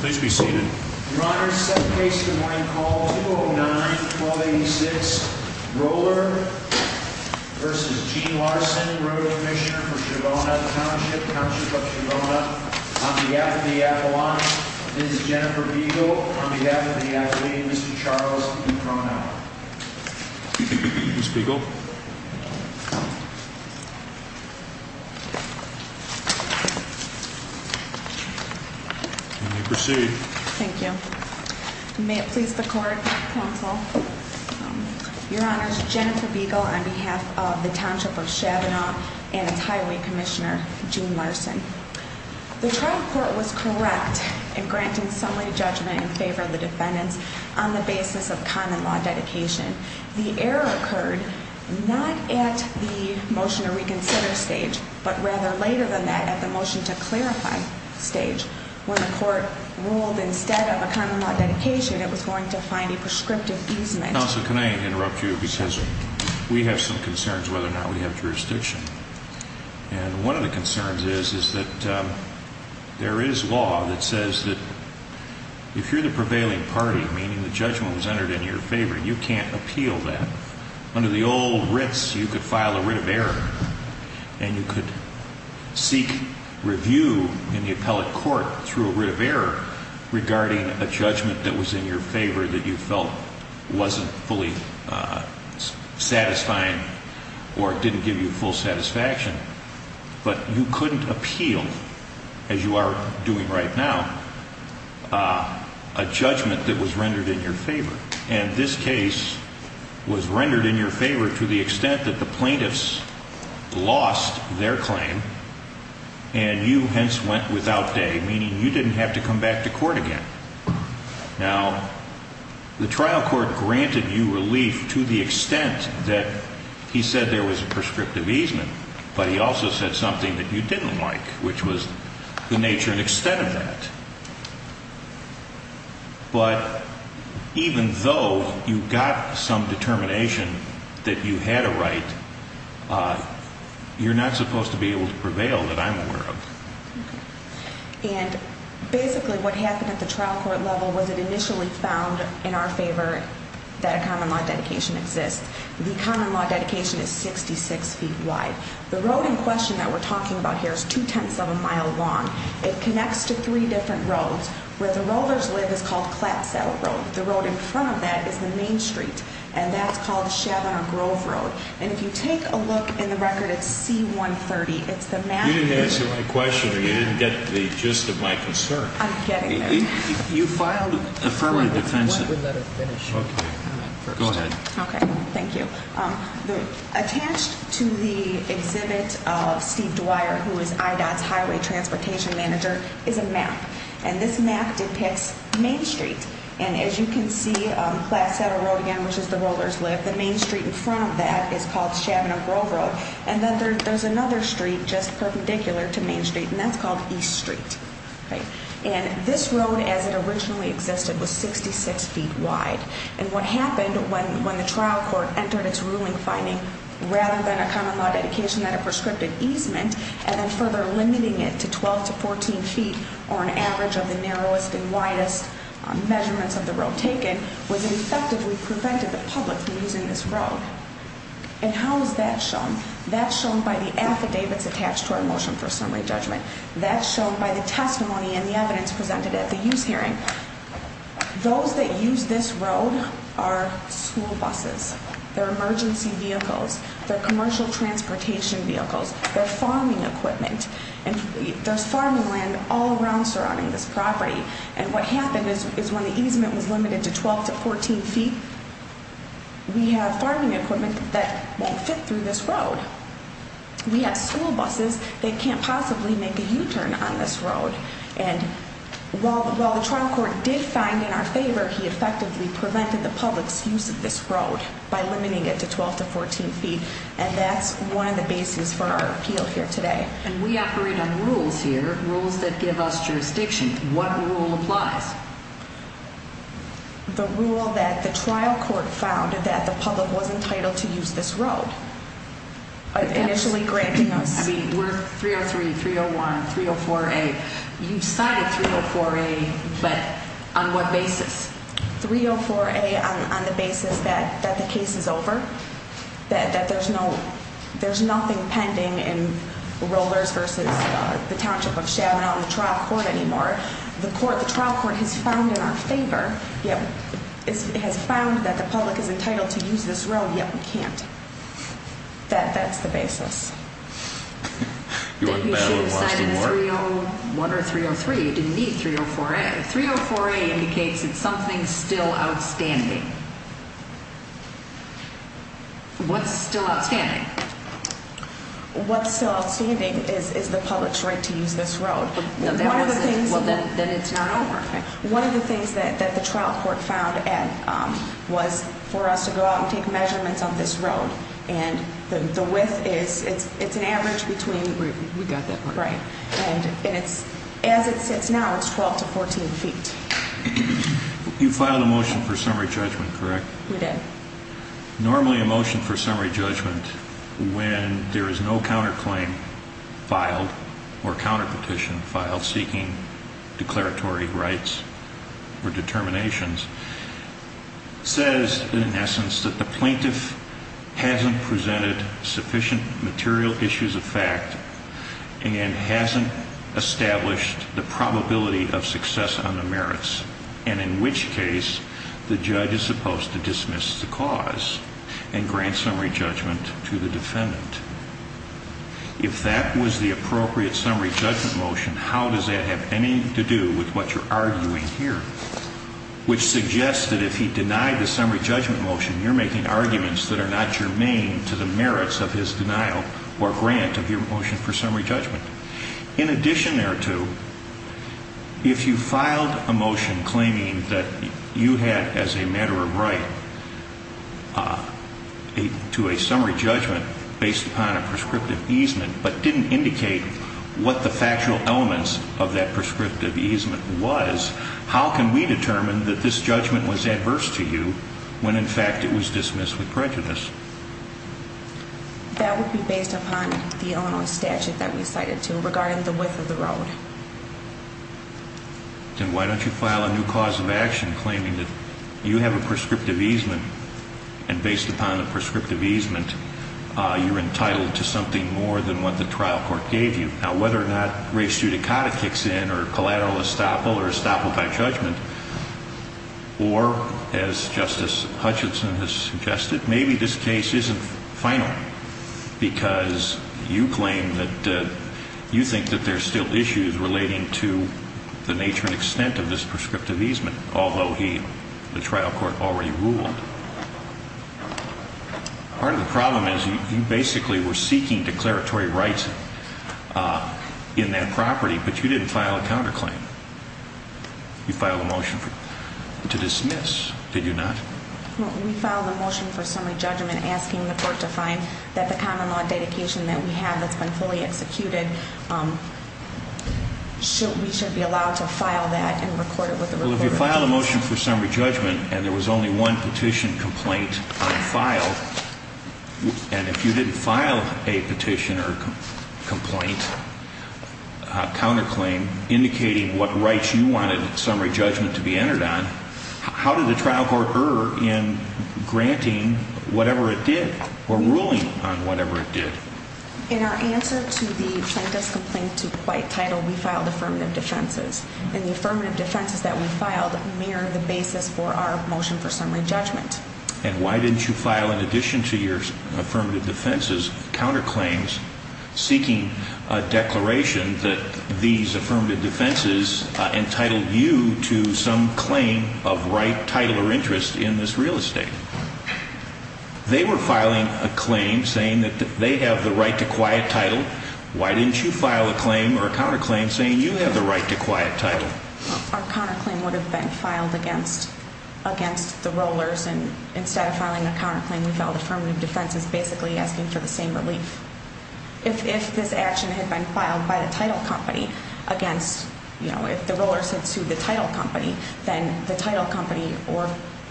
Please be seated. Your Honor, second case for the morning call, 209-1286, Roller v. Gene Larson, Rural Commissioner for Chirona Township, Township of Chirona. On behalf of the appellant, Ms. Jennifer Beagle. On behalf of the appellant, Mr. Charles Ucronow. Ms. Beagle. Ms. Beagle. You may proceed. Thank you. May it please the Court, Counsel. Your Honor, it's Jennifer Beagle on behalf of the Township of Chabinaw and its Highway Commissioner, Gene Larson. The trial court was correct in granting summary judgment in favor of the defendants on the basis of common law dedication. The error occurred not at the motion to reconsider stage, but rather later than that at the motion to clarify stage when the court ruled instead of a common law dedication it was going to find a prescriptive easement. Counsel, can I interrupt you because we have some concerns whether or not we have jurisdiction. And one of the concerns is that there is law that says that if you're the prevailing party, meaning the judgment was entered in your favor, you can't appeal that. Under the old writs, you could file a writ of error and you could seek review in the appellate court through a writ of error regarding a judgment that was in your favor that you felt wasn't fully satisfying or didn't give you full satisfaction, but you couldn't appeal as you are doing right now a judgment that was rendered in your favor. And this case was rendered in your favor to the extent that the plaintiffs lost their claim and you hence went without day, meaning you didn't have to come back to court again. Now, the trial court granted you relief to the extent that he said there was a prescriptive easement, but he also said something that you didn't like, which was the nature and extent of that. But even though you got some determination that you had a right, you're not supposed to be able to prevail that I'm aware of. And basically what happened at the trial court level was it initially found in our favor that a common law dedication exists. The common law dedication is 66 feet wide. The road in question that we're talking about here is two-tenths of a mile long. It connects to three different roads. Where the rollers live is called Clapsaddle Road. The road in front of that is the Main Street. And that's called Shavener Grove Road. And if you take a look in the record, it's C-130. It's the map. You didn't answer my question or you didn't get the gist of my concern. I'm getting there. You filed an affirmative defense. Go ahead. Okay. Thank you. Attached to the exhibit of Steve Dwyer, who is IDOT's Highway Transportation Manager, is a map. And this map depicts Main Street. And as you can see, Clapsaddle Road again, which is the rollers live. The Main Street in front of that is called Shavener Grove Road. And then there's another street just perpendicular to Main Street. And that's called East Street. And this road as it originally existed was 66 feet wide. And what happened when the trial court entered its ruling finding, rather than a common law dedication that it prescripted easement, and then further limiting it to 12 to 14 feet, or an average of the narrowest and widest measurements of the road taken, was it effectively prevented the public from using this road. And how is that shown? That's shown by the affidavits attached to our Motion for Assembly Judgment. That's shown by the testimony and the evidence presented at the use hearing. Those that use this road are school buses. They're emergency vehicles. They're commercial transportation vehicles. They're farming equipment. And there's farming land all around surrounding this property. And what happened is when the easement was limited to 12 to 14 feet, we have farming equipment that won't fit through this road. We have school buses that can't possibly make a U-turn on this road. And while the trial court did find in our favor, he effectively prevented the public's use of this road by limiting it to 12 to 14 feet. And that's one of the basis for our appeal here today. And we operate on rules here, rules that give us jurisdiction. What rule applies? The rule that the trial court found that the public was entitled to use this road. Initially granting us... I mean, we're 303, 301, 304A. You cited 304A, but on what basis? 304A on the basis that the case is over. That there's nothing pending in Rollers v. Township of Chabonau in the trial court anymore. The trial court has found in our favor that the public is entitled to use this road yet we can't. That's the basis. You want the battle of Austin Ward? 301 or 303, you didn't need 304A. 304A indicates it's something still outstanding. What's still outstanding? What's still outstanding is the public's right to use this road. Then it's not over. One of the things that the trial court found was for us to go out and take measurements on this road. And the width is an average between... We got that part. As it sits now, it's 12 to 14 feet. You filed a motion for summary judgment, correct? We did. Normally a motion for summary judgment when there is no counterclaim filed or counterpetition filed seeking declaratory rights or determinations says, in essence, that the plaintiff hasn't presented sufficient material issues of fact and hasn't established the probability of success on the merits and in which case the judge is supposed to dismiss the cause and grant summary judgment to the defendant. If that was the appropriate summary judgment motion, how does that have anything to do with what you're arguing here? Which suggests that if he denied the summary judgment motion, you're making arguments that are not germane to the merits of his denial or grant of your motion for summary judgment. In addition thereto, if you filed a motion claiming that you had as a matter of right to a summary judgment based upon a prescriptive easement but didn't indicate what the factual elements of that prescriptive easement was, how can we determine that this judgment was adverse to you when in fact it was dismissed with prejudice? That would be based upon the Illinois statute that we cited to regarding the width of the road. Then why don't you file a new cause of action claiming that you have a prescriptive easement and based upon the prescriptive easement, you're entitled to something more than what the trial court gave you. Now whether or not race judicata kicks in or collateral estoppel or estoppel by judgment or as Justice Hutchinson has suggested, maybe this case isn't final because you claim that you think that there's still issues relating to the nature and extent of this prescriptive easement, although the trial court already ruled. Part of the problem is you basically were seeking declaratory rights in that property, but you didn't file a counterclaim. You filed a motion to dismiss. Did you not? We filed a motion for summary judgment asking the court to find that the common law dedication that we have that's been fully executed we should be allowed to file that and record it with the report. Well if you filed a motion for summary judgment and there was only one petition complaint on file, and if you didn't file a petition or complaint counterclaim indicating what rights you wanted summary judgment to be entered on, how did the trial court err in granting whatever it did or ruling on whatever it did? In our answer to the plaintiff's complaint to White Title, we filed affirmative defenses and the affirmative defenses that we filed mirror the basis for our motion for summary judgment. And why didn't you file in addition to your affirmative defenses counterclaims a declaration that these affirmative defenses entitled you to some claim of right, title, or interest in this real estate? They were filing a claim saying that they have the right to quiet title. Why didn't you file a claim or a counterclaim saying you have the right to quiet title? Our counterclaim would have been filed against the rollers and instead of filing a counterclaim we filed affirmative defenses basically asking for the same relief. If this action had been filed by the title company against, you know, if the rollers had sued the title company, then the title company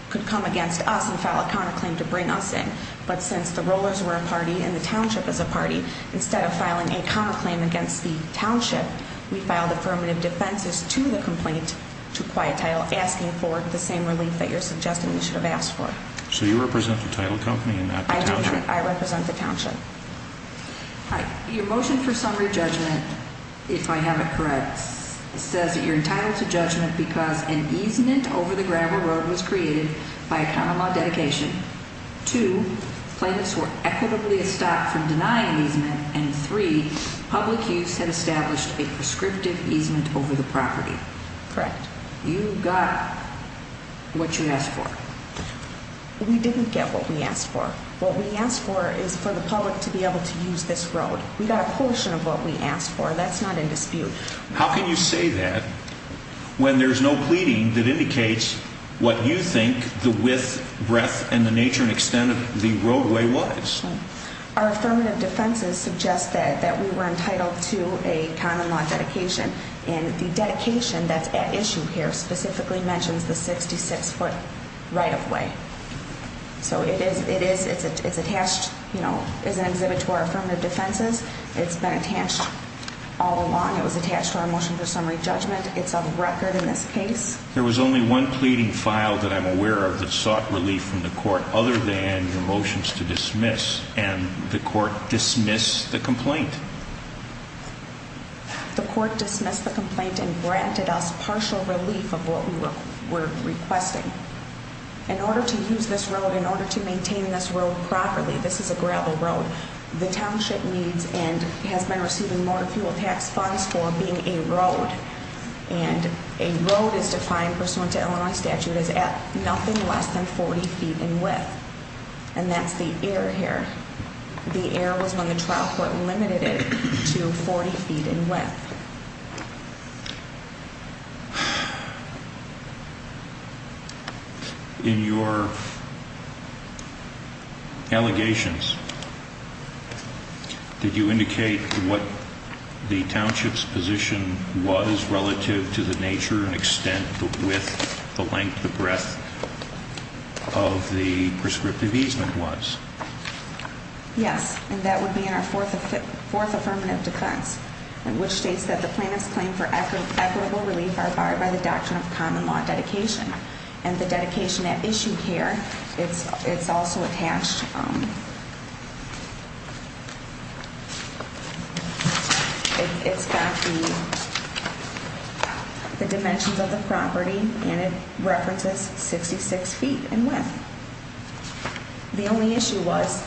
could come against us and file a counterclaim to bring us in. But since the rollers were a party and the township is a party, instead of filing a counterclaim against the township, we filed affirmative defenses to the complaint to quiet title asking for the same relief that you're suggesting we should have asked for. So you represent the title company and not the township? I represent the township. Your motion for summary judgment, if I have it correct, says that you're entitled to judgment because an easement over the gravel road was created by a common law dedication. Two, plaintiffs were equitably stopped from denying easement, and three, public use had established a prescriptive easement over the property. Correct. You got what you asked for. We didn't get what we asked for. What we asked for is for the public to be able to use this road. We got a portion of what we asked for. That's not in dispute. How can you say that when there's no pleading that indicates what you think the width, breadth, and the nature and extent of the roadway was? Our affirmative defenses suggest that we were entitled to a common law dedication, and the dedication that's at issue here specifically mentions the 66-foot right-of-way. So it is attached as an exhibit to our affirmative defenses. It's been attached all along. It was attached to our motion for summary judgment. It's on record in this case. There was only one pleading file that I'm aware of that sought relief from the court other than your motions to dismiss, and the court dismissed the complaint. The court dismissed the complaint and granted us partial relief of what we were requesting. In order to use this road, in order to maintain this road properly, this is a gravel road, the township needs and has been receiving motor fuel tax funds for being a road. And a road is defined, pursuant to Illinois statute, as at nothing less than 40 feet in width. And that's the error here. The error was when the trial court limited it to 40 feet in width. In your allegations, did you indicate what the township's position was relative to the nature and extent the width, the length, the breadth of the prescriptive easement was? Yes, and that would be in our fourth affirmative defense, in which states that the plaintiff's claim for equitable relief are barred by the doctrine of common law dedication. And the dedication at issue here, it's also attached it's got the dimensions of the property, and it references 66 feet in width. The only issue was,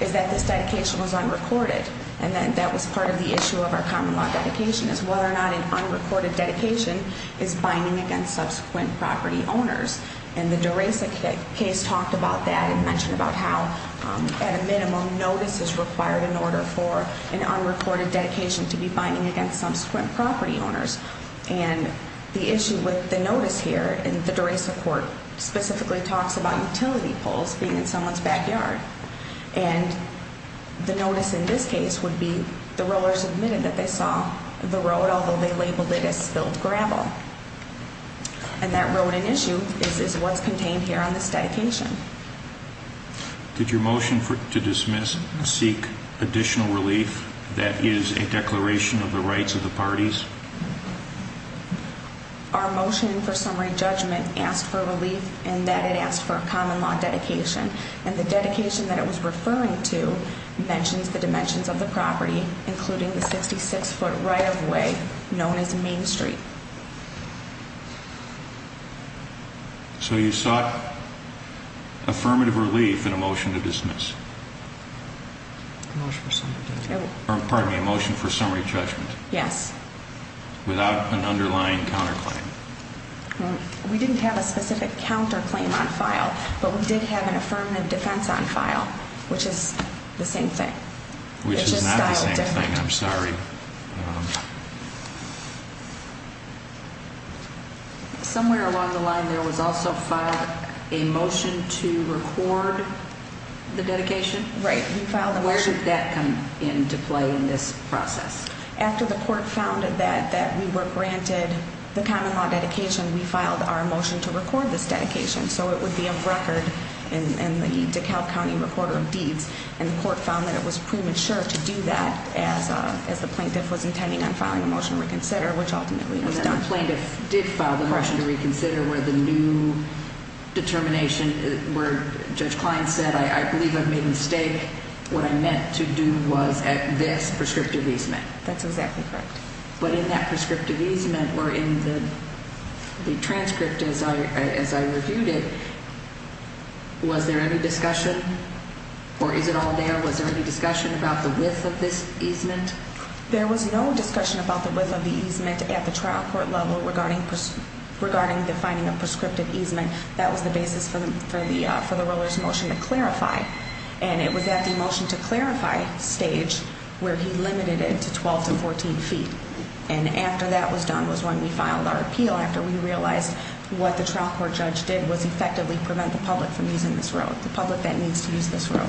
is that this dedication was unrecorded, and that was part of the issue of our common law dedication, is whether or not an unrecorded dedication is binding against subsequent property owners. And the DeRosa case talked about that and mentioned about how at a minimum, notice is required in order for an unrecorded dedication to be binding against subsequent property owners. And the issue with the notice here, and the DeRosa court specifically talks about utility poles being in someone's backyard. And the notice in this case would be, the rollers admitted that they saw the road, although they labeled it as spilled gravel. And that road in issue is what's contained here on this dedication. Did your motion to dismiss seek additional relief that is a declaration of the rights of the parties? Our motion for summary judgment asked for relief, and that it asked for a common law dedication. And the dedication that it was referring to mentions the dimensions of the property, including the 66 foot right of way, known as Main Street. So you sought affirmative relief in a motion to dismiss? A motion for summary judgment. Pardon me, a motion for summary judgment. Yes. Without an underlying counterclaim. We didn't have a specific counterclaim on file, but we did have an affirmative defense on file, which is the same thing. Which is not the same thing, I'm sorry. Somewhere along the line there was also filed a motion to record the dedication? Right, we filed a motion. Where did that come into play in this process? After the court found that we were granted the common law dedication, we filed our motion to record this dedication. So it would be of record in the DeKalb County recorder of deeds, and the court found that it was premature to do that as the plaintiff was intending on filing a motion to reconsider, which ultimately was done. The plaintiff did file the motion to reconsider where the new determination, where Judge Klein said, I believe I've made a mistake, what I meant to do was at this prescriptive easement. That's exactly correct. But in that prescriptive easement, or in the transcript as I reviewed it, was there any discussion? Or is it all there? Was there any discussion about the width of this easement? There was no discussion about the width of the easement at the trial court level regarding the finding of prescriptive easement. That was the basis for the Roller's motion to clarify. And it was at the motion to clarify stage where he limited it to 12 to 14 feet. And after that was done was when we filed our appeal, after we realized what the trial court judge did was effectively prevent the public from using this road, the public that needs to use this road.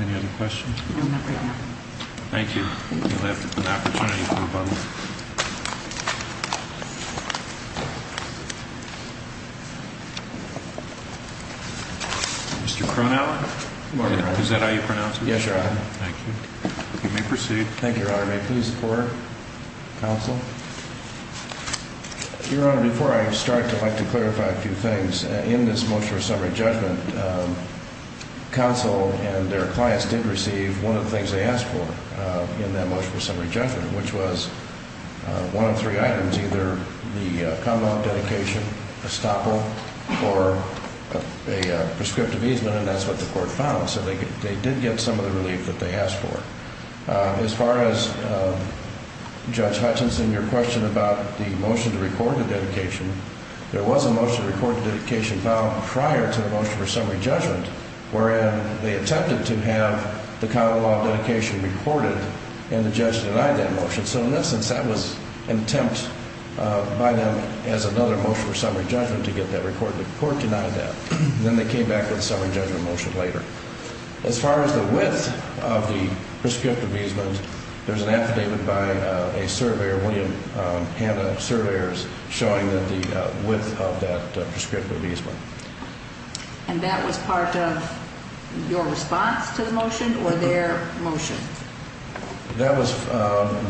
Any other questions? Thank you. Mr. Cronauer? Is that how you pronounce it? Yes, Your Honor. Thank you. You may proceed. Your Honor, before I start, I'd like to clarify a few things. In this motion for summary judgment, counsel and their clients did receive one of the things they asked for in that motion for summary judgment, which was one of three items, either the comment, dedication, estoppel, or a prescriptive easement. And that's what the court found. So they did get some of the relief that they asked for. As far as Judge Hutchinson, your question about the motion to record the dedication, there was a motion to record the dedication filed prior to the motion for summary judgment, wherein they attempted to have the common law dedication recorded, and the judge denied that motion. So in this instance, that was an attempt by them as another motion for summary judgment to get that recorded. The court denied that. Then they came back with a summary judgment motion later. As far as the width of the prescriptive easement, there's an affidavit by a surveyor, William Hanna Surveyors, showing the width of that prescriptive easement. And that was part of your response to the motion, or their motion? That was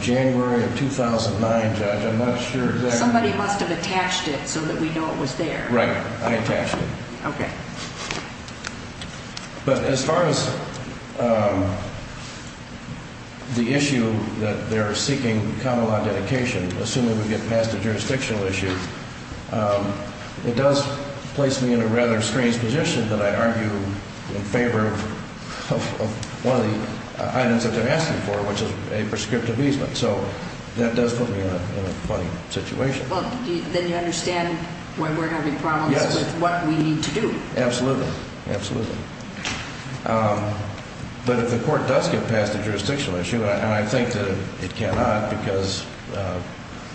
January of 2009, Judge. I'm not sure exactly. Somebody must have attached it so that we know it was there. Right. I attached it. But as far as the issue that they're seeking common law dedication, assuming we get past the jurisdictional issue, it does place me in a rather strange position that I argue in favor of one of the items that they're asking for, which is a prescriptive easement. So that does put me in a funny situation. Well, then you understand why we're having problems with what we need to do. Absolutely. Absolutely. But if the court does get past the jurisdictional issue, and I think that it cannot because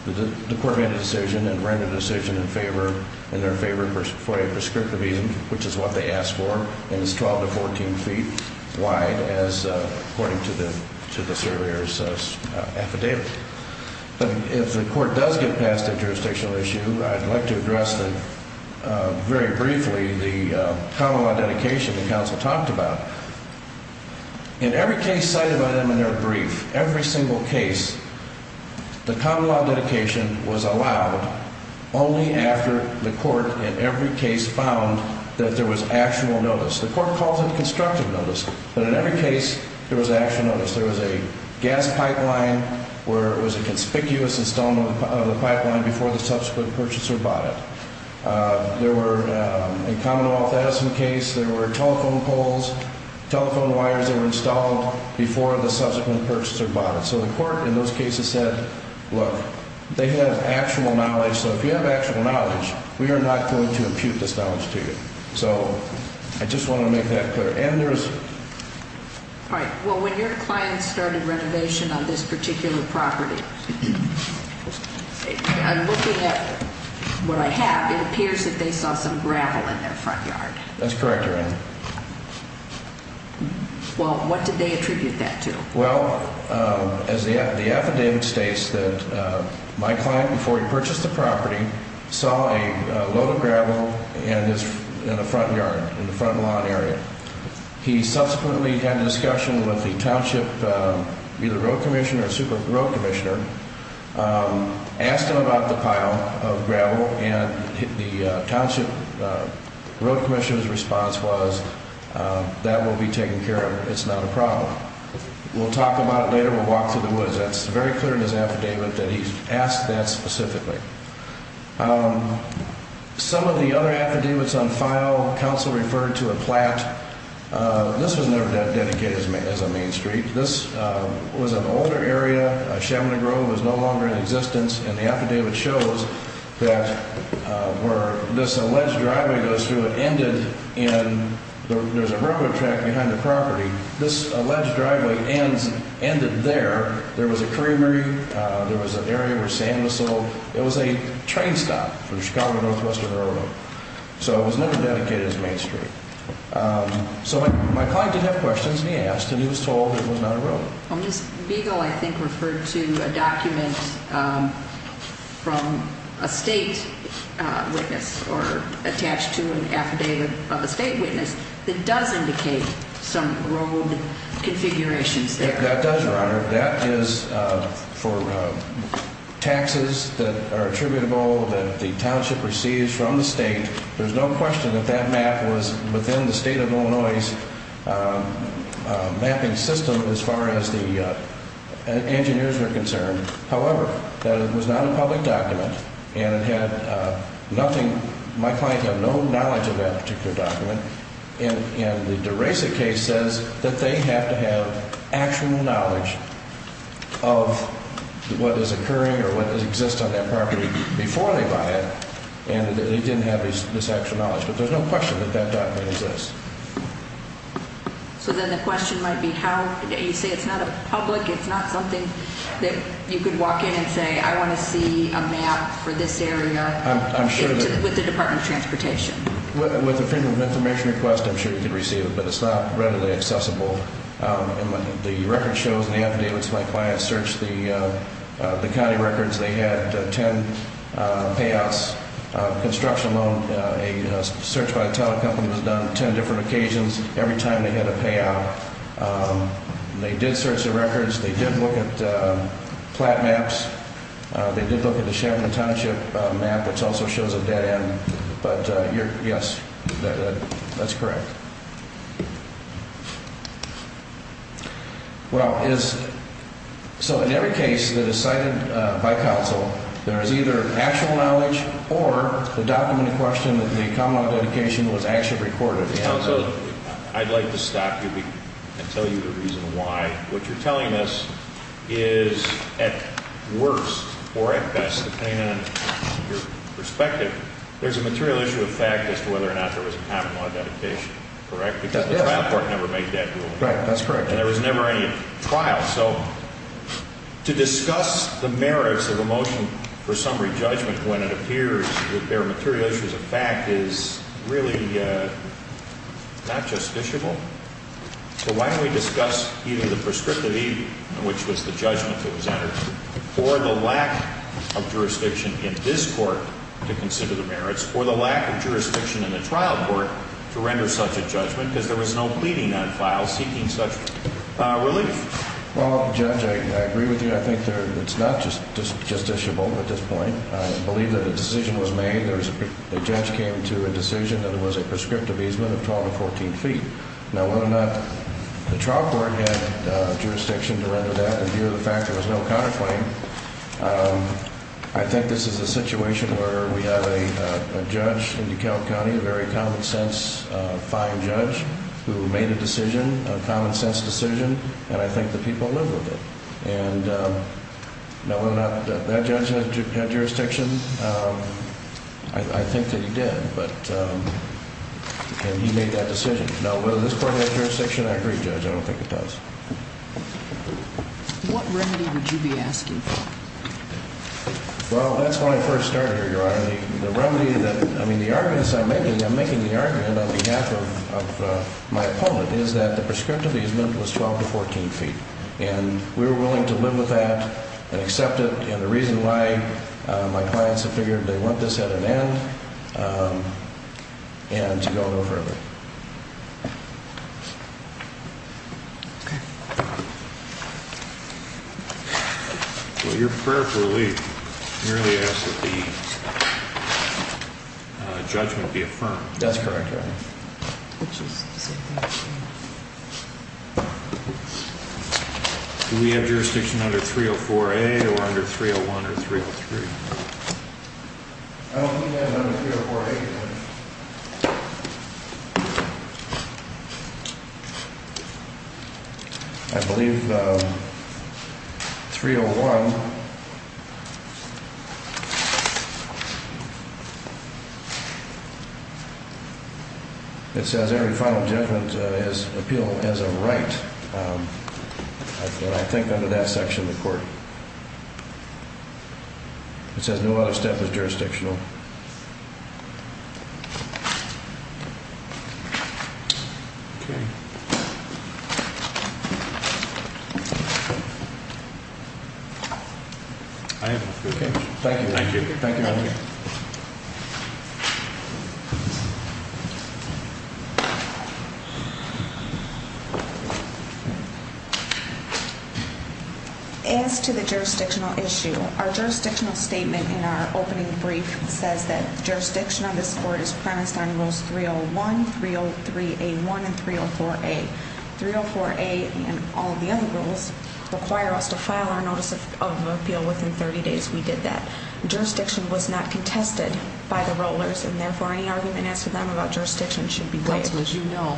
the court made a decision and ran the decision in their favor for a prescriptive easement, which is what they asked for, and it's 12 to 14 feet wide, according to the surveyor's affidavit. But if the court does get past the jurisdictional issue, I'd like to address very briefly the common law dedication the counsel talked about. In every case cited by them in their brief, every single case, the common law dedication was allowed only after the court in every case found that there was actual notice. The court calls it constructive notice, but in every case there was actual notice. There was a gas pipeline where it was a conspicuous installment of the pipeline before the subsequent purchaser bought it. There were, in Commonwealth Edison case, there were telephone poles, telephone wires that were installed before the subsequent purchaser bought it. So the court in those cases said, look, they have actual knowledge, so if you have actual knowledge, we are not going to impute this knowledge to you. So I just want to make that clear. All right. Well, when your client started renovation on this particular property, I'm looking at what I have. It appears that they saw some gravel in their front yard. That's correct, Your Honor. Well, what did they attribute that to? Well, the affidavit states that my client, before he purchased the property, saw a load of gravel in the front yard, in the front lawn area. He subsequently had a discussion with the township either road commissioner or super road commissioner, asked him about the pile of gravel, and the township road commissioner's response was that will be taken care of. It's not a problem. We'll talk about it later. We'll walk through the woods. That's very clear in his affidavit that he's asked that specifically. Some of the other affidavits refer to a plat. This was never that dedicated as a main street. This was an older area. Chaminade Grove was no longer in existence, and the affidavit shows that where this alleged driveway goes through, it ended in, there was a railroad track behind the property. This alleged driveway ended there. There was a creamery. There was an area where sand was sold. It was a train stop for the Chicago Northwestern Railroad. It was never dedicated as a main street. My client did have questions, and he asked, and he was told it was not a road. Ms. Beagle, I think, referred to a document from a state witness or attached to an affidavit of a state witness that does indicate some road configurations there. That does, Your Honor. That is for taxes that are received from the state. There's no question that that map was within the state of Illinois' mapping system as far as the engineers were concerned. However, that it was not a public document, and it had nothing, my client had no knowledge of that particular document, and the DeRosa case says that they have to have actual knowledge of what is occurring or what exists on that property before they buy it, and they didn't have this actual knowledge. But there's no question that that document exists. So then the question might be, you say it's not a public, it's not something that you could walk in and say, I want to see a map for this area with the Department of Transportation. With the Freedom of Information request, I'm sure you could receive it, but it's not readily accessible. The record shows, and Anthony, who was my client, searched the construction payouts, construction loan, a search by a telecom company was done on 10 different occasions every time they had a payout. They did search the records, they did look at plat maps, they did look at the Chevron Township map, which also shows a dead end. But, yes, that's correct. Well, so in every case that is cited by counsel, there is either actual knowledge or the document in question that the common law dedication was actually recorded. I'd like to stop you and tell you the reason why. What you're telling us is, at worst, or at best, depending on your perspective, there's a material issue of fact as to whether or not there was a common law dedication, correct? Because the trial court never made that rule. And there was never any trial. So to discuss the merits of a motion for summary judgment when it appears that there are material issues of fact is really not justiciable. So why don't we discuss either the prescriptive even, which was the judgment that was entered, or the lack of jurisdiction in this court to consider the merits, or the lack of jurisdiction in the trial court to render such a judgment, because there was no pleading on file seeking such a judgment. Willie? Well, Judge, I agree with you. I think it's not justiciable at this point. I believe that a decision was made. The judge came to a decision that it was a prescriptive easement of 12 to 14 feet. Now, whether or not the trial court had jurisdiction to render that, in view of the fact that there was no counterclaim, I think this is a situation where we have a judge in DeKalb County, a very common sense, fine judge, who made a decision, a common sense decision, and I think the people live with it. And now, whether or not that judge had jurisdiction, I think that he did. And he made that decision. Now, whether this court had jurisdiction, I agree, Judge. I don't think it does. What remedy would you be asking for? Well, that's when I first started, Your Honor. The remedy that, I mean, the arguments I'm making, I'm making the argument on behalf of my opponent, is that the prescriptive easement was 12 to 14 feet. And we were willing to live with that and accept it. And the reason why my clients have figured they want this at an end and to go no further. Well, your prayer for relief merely asks that the judgment be affirmed. That's correct, Your Honor. Do we have jurisdiction under 304A or under 301 or 303? I don't think we have it under 304A, Your Honor. I believe 301 It says every final judgment is appealed as a right. I think under that section of the court. It says no other step is jurisdictional. Thank you. Thank you. As to the jurisdictional issue, our jurisdictional statement in our opening brief says that jurisdiction of this court is premised on rules 301, 303A1, and 304A. 304A and all the other rules require us to file our notice of appeal within 30 days. We did that. Jurisdiction was not contested by the rollers, and therefore any argument asked of them about jurisdiction should be waived. That's because you know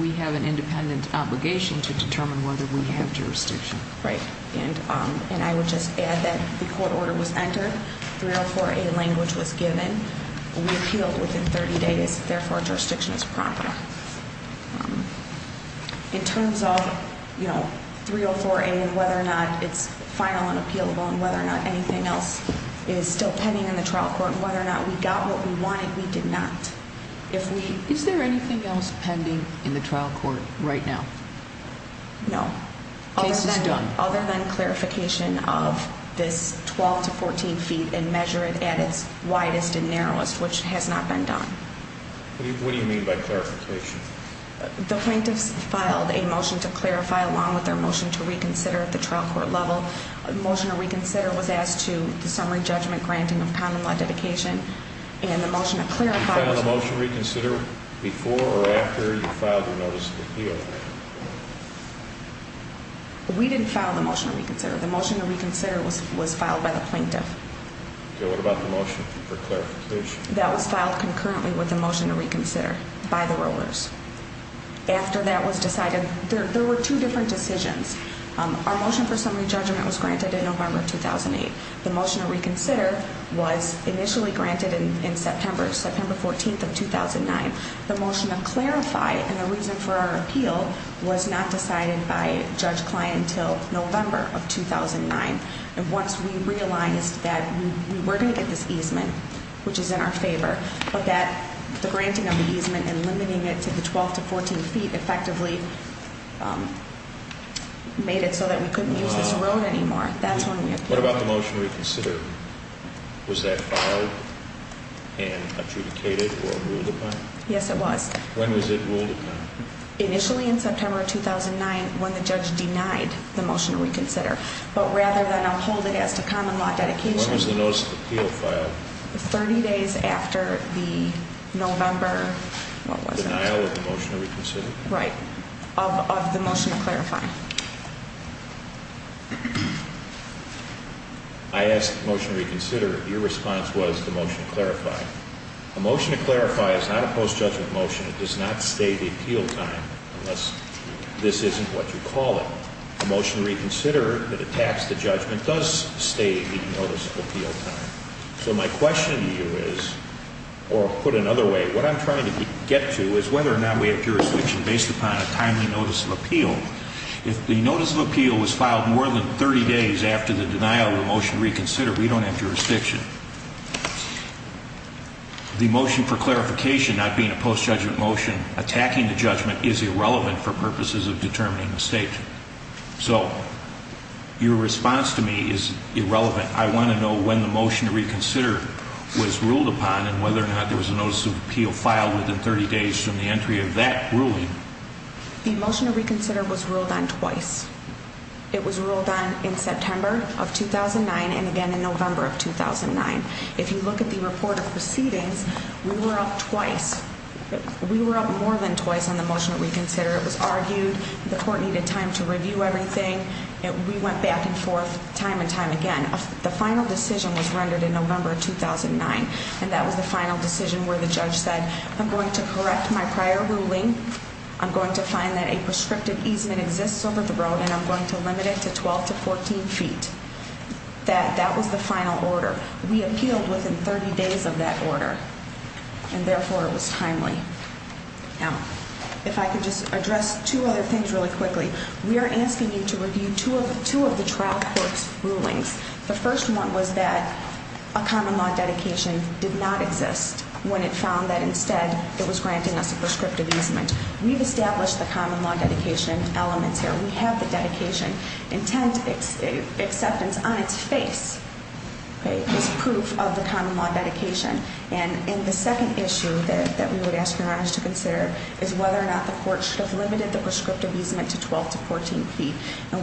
we have an independent obligation to determine whether we have jurisdiction. Right. And I would just add that the court order was entered. 304A language was given. We appealed within 30 days. Therefore, jurisdiction is proper. In terms of 304A and whether or not it's final and appealable and whether or not anything else is still pending in the trial court and whether or not we got what we wanted, we did not. Is there anything else pending in the trial court right now? No. Other than clarification of this 12 to 14 feet and measure it at its widest and narrowest, which has not been done. What do you mean by clarification? The plaintiffs filed a motion to clarify along with their motion to reconsider at the trial court level. The motion to reconsider was asked to the summary judgment granting of common law dedication. Did you file the motion to reconsider before or after you filed your notice of appeal? We didn't file the motion to reconsider. The motion to reconsider was filed by the plaintiff. What about the motion for clarification? That was filed concurrently with the motion to reconsider by the rollers. After that was the motion for summary judgment was granted in November of 2008. The motion to reconsider was initially granted in September. September 14th of 2009. The motion to clarify and the reason for our appeal was not decided by Judge Klein until November of 2009. Once we realized that we were going to get this easement, which is in our favor, but that the granting of the easement and limiting it to the 12 to 14 feet effectively made it so that we couldn't use this road anymore. What about the motion to reconsider? Was that filed and adjudicated or ruled upon? Yes it was. When was it ruled upon? Initially in September of 2009 when the judge denied the motion to reconsider. But rather than uphold it as to common law dedication. When was the notice of appeal filed? 30 days after the November... of the motion to clarify. I asked the motion to reconsider. Your response was the motion to clarify. A motion to clarify is not a post-judgment motion. It does not stay the appeal time unless this isn't what you call it. A motion to reconsider that attacks the judgment does stay the notice of appeal time. So my question to you is or put another way, what I'm trying to get to is whether or not we have jurisdiction based upon a timely notice of appeal. If the notice of appeal was filed more than 30 days after the denial of the motion to reconsider we don't have jurisdiction. The motion for clarification not being a post-judgment motion attacking the judgment is irrelevant for purposes of determining the state. So your response to me is irrelevant. I want to know when the motion to reconsider was ruled upon and whether or not there was a notice of appeal filed within 30 days from the entry of that ruling. The motion to reconsider was ruled on twice. It was ruled on in September of 2009 and again in November of 2009. If you look at the report of proceedings, we were up twice. We were up more than twice on the motion to reconsider. It was argued. The court needed time to review everything. We went back and forth time and time again. The final decision was rendered in November of 2009. That was the final decision where the judge said I'm going to correct my prior ruling. I'm going to find that a prescriptive easement exists over the road and I'm going to limit it to 12 to 14 feet. That was the final order. We appealed within 30 days of that order. Therefore, it was timely. If I could just address two other things really quickly. We are asking you to review two of the trial court's rulings. The first one was that a common law dedication did not exist when it found that instead it was granting us a prescriptive easement. We've established the common law dedication elements here. We have the dedication intent acceptance on its face as proof of the common law dedication. The second issue that we would ask your Honor to consider is whether or not the court should have limited the prescriptive easement to 12 to 14 feet.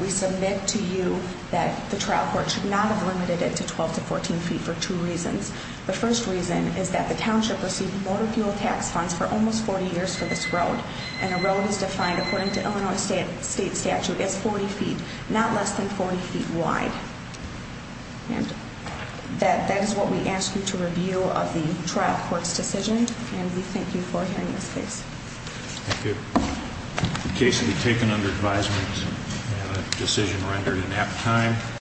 We submit to you that the trial court should not have limited it to 12 to 14 feet for two reasons. The first reason is that the township received motor fuel tax funds for almost 40 years for this road and the road is defined according to Illinois state statute as 40 feet, not less than 40 feet wide. That is what we ask you to review of the trial court's decision and we thank you for hearing this case. The case will be taken under advisement. We have a decision rendered at nap time.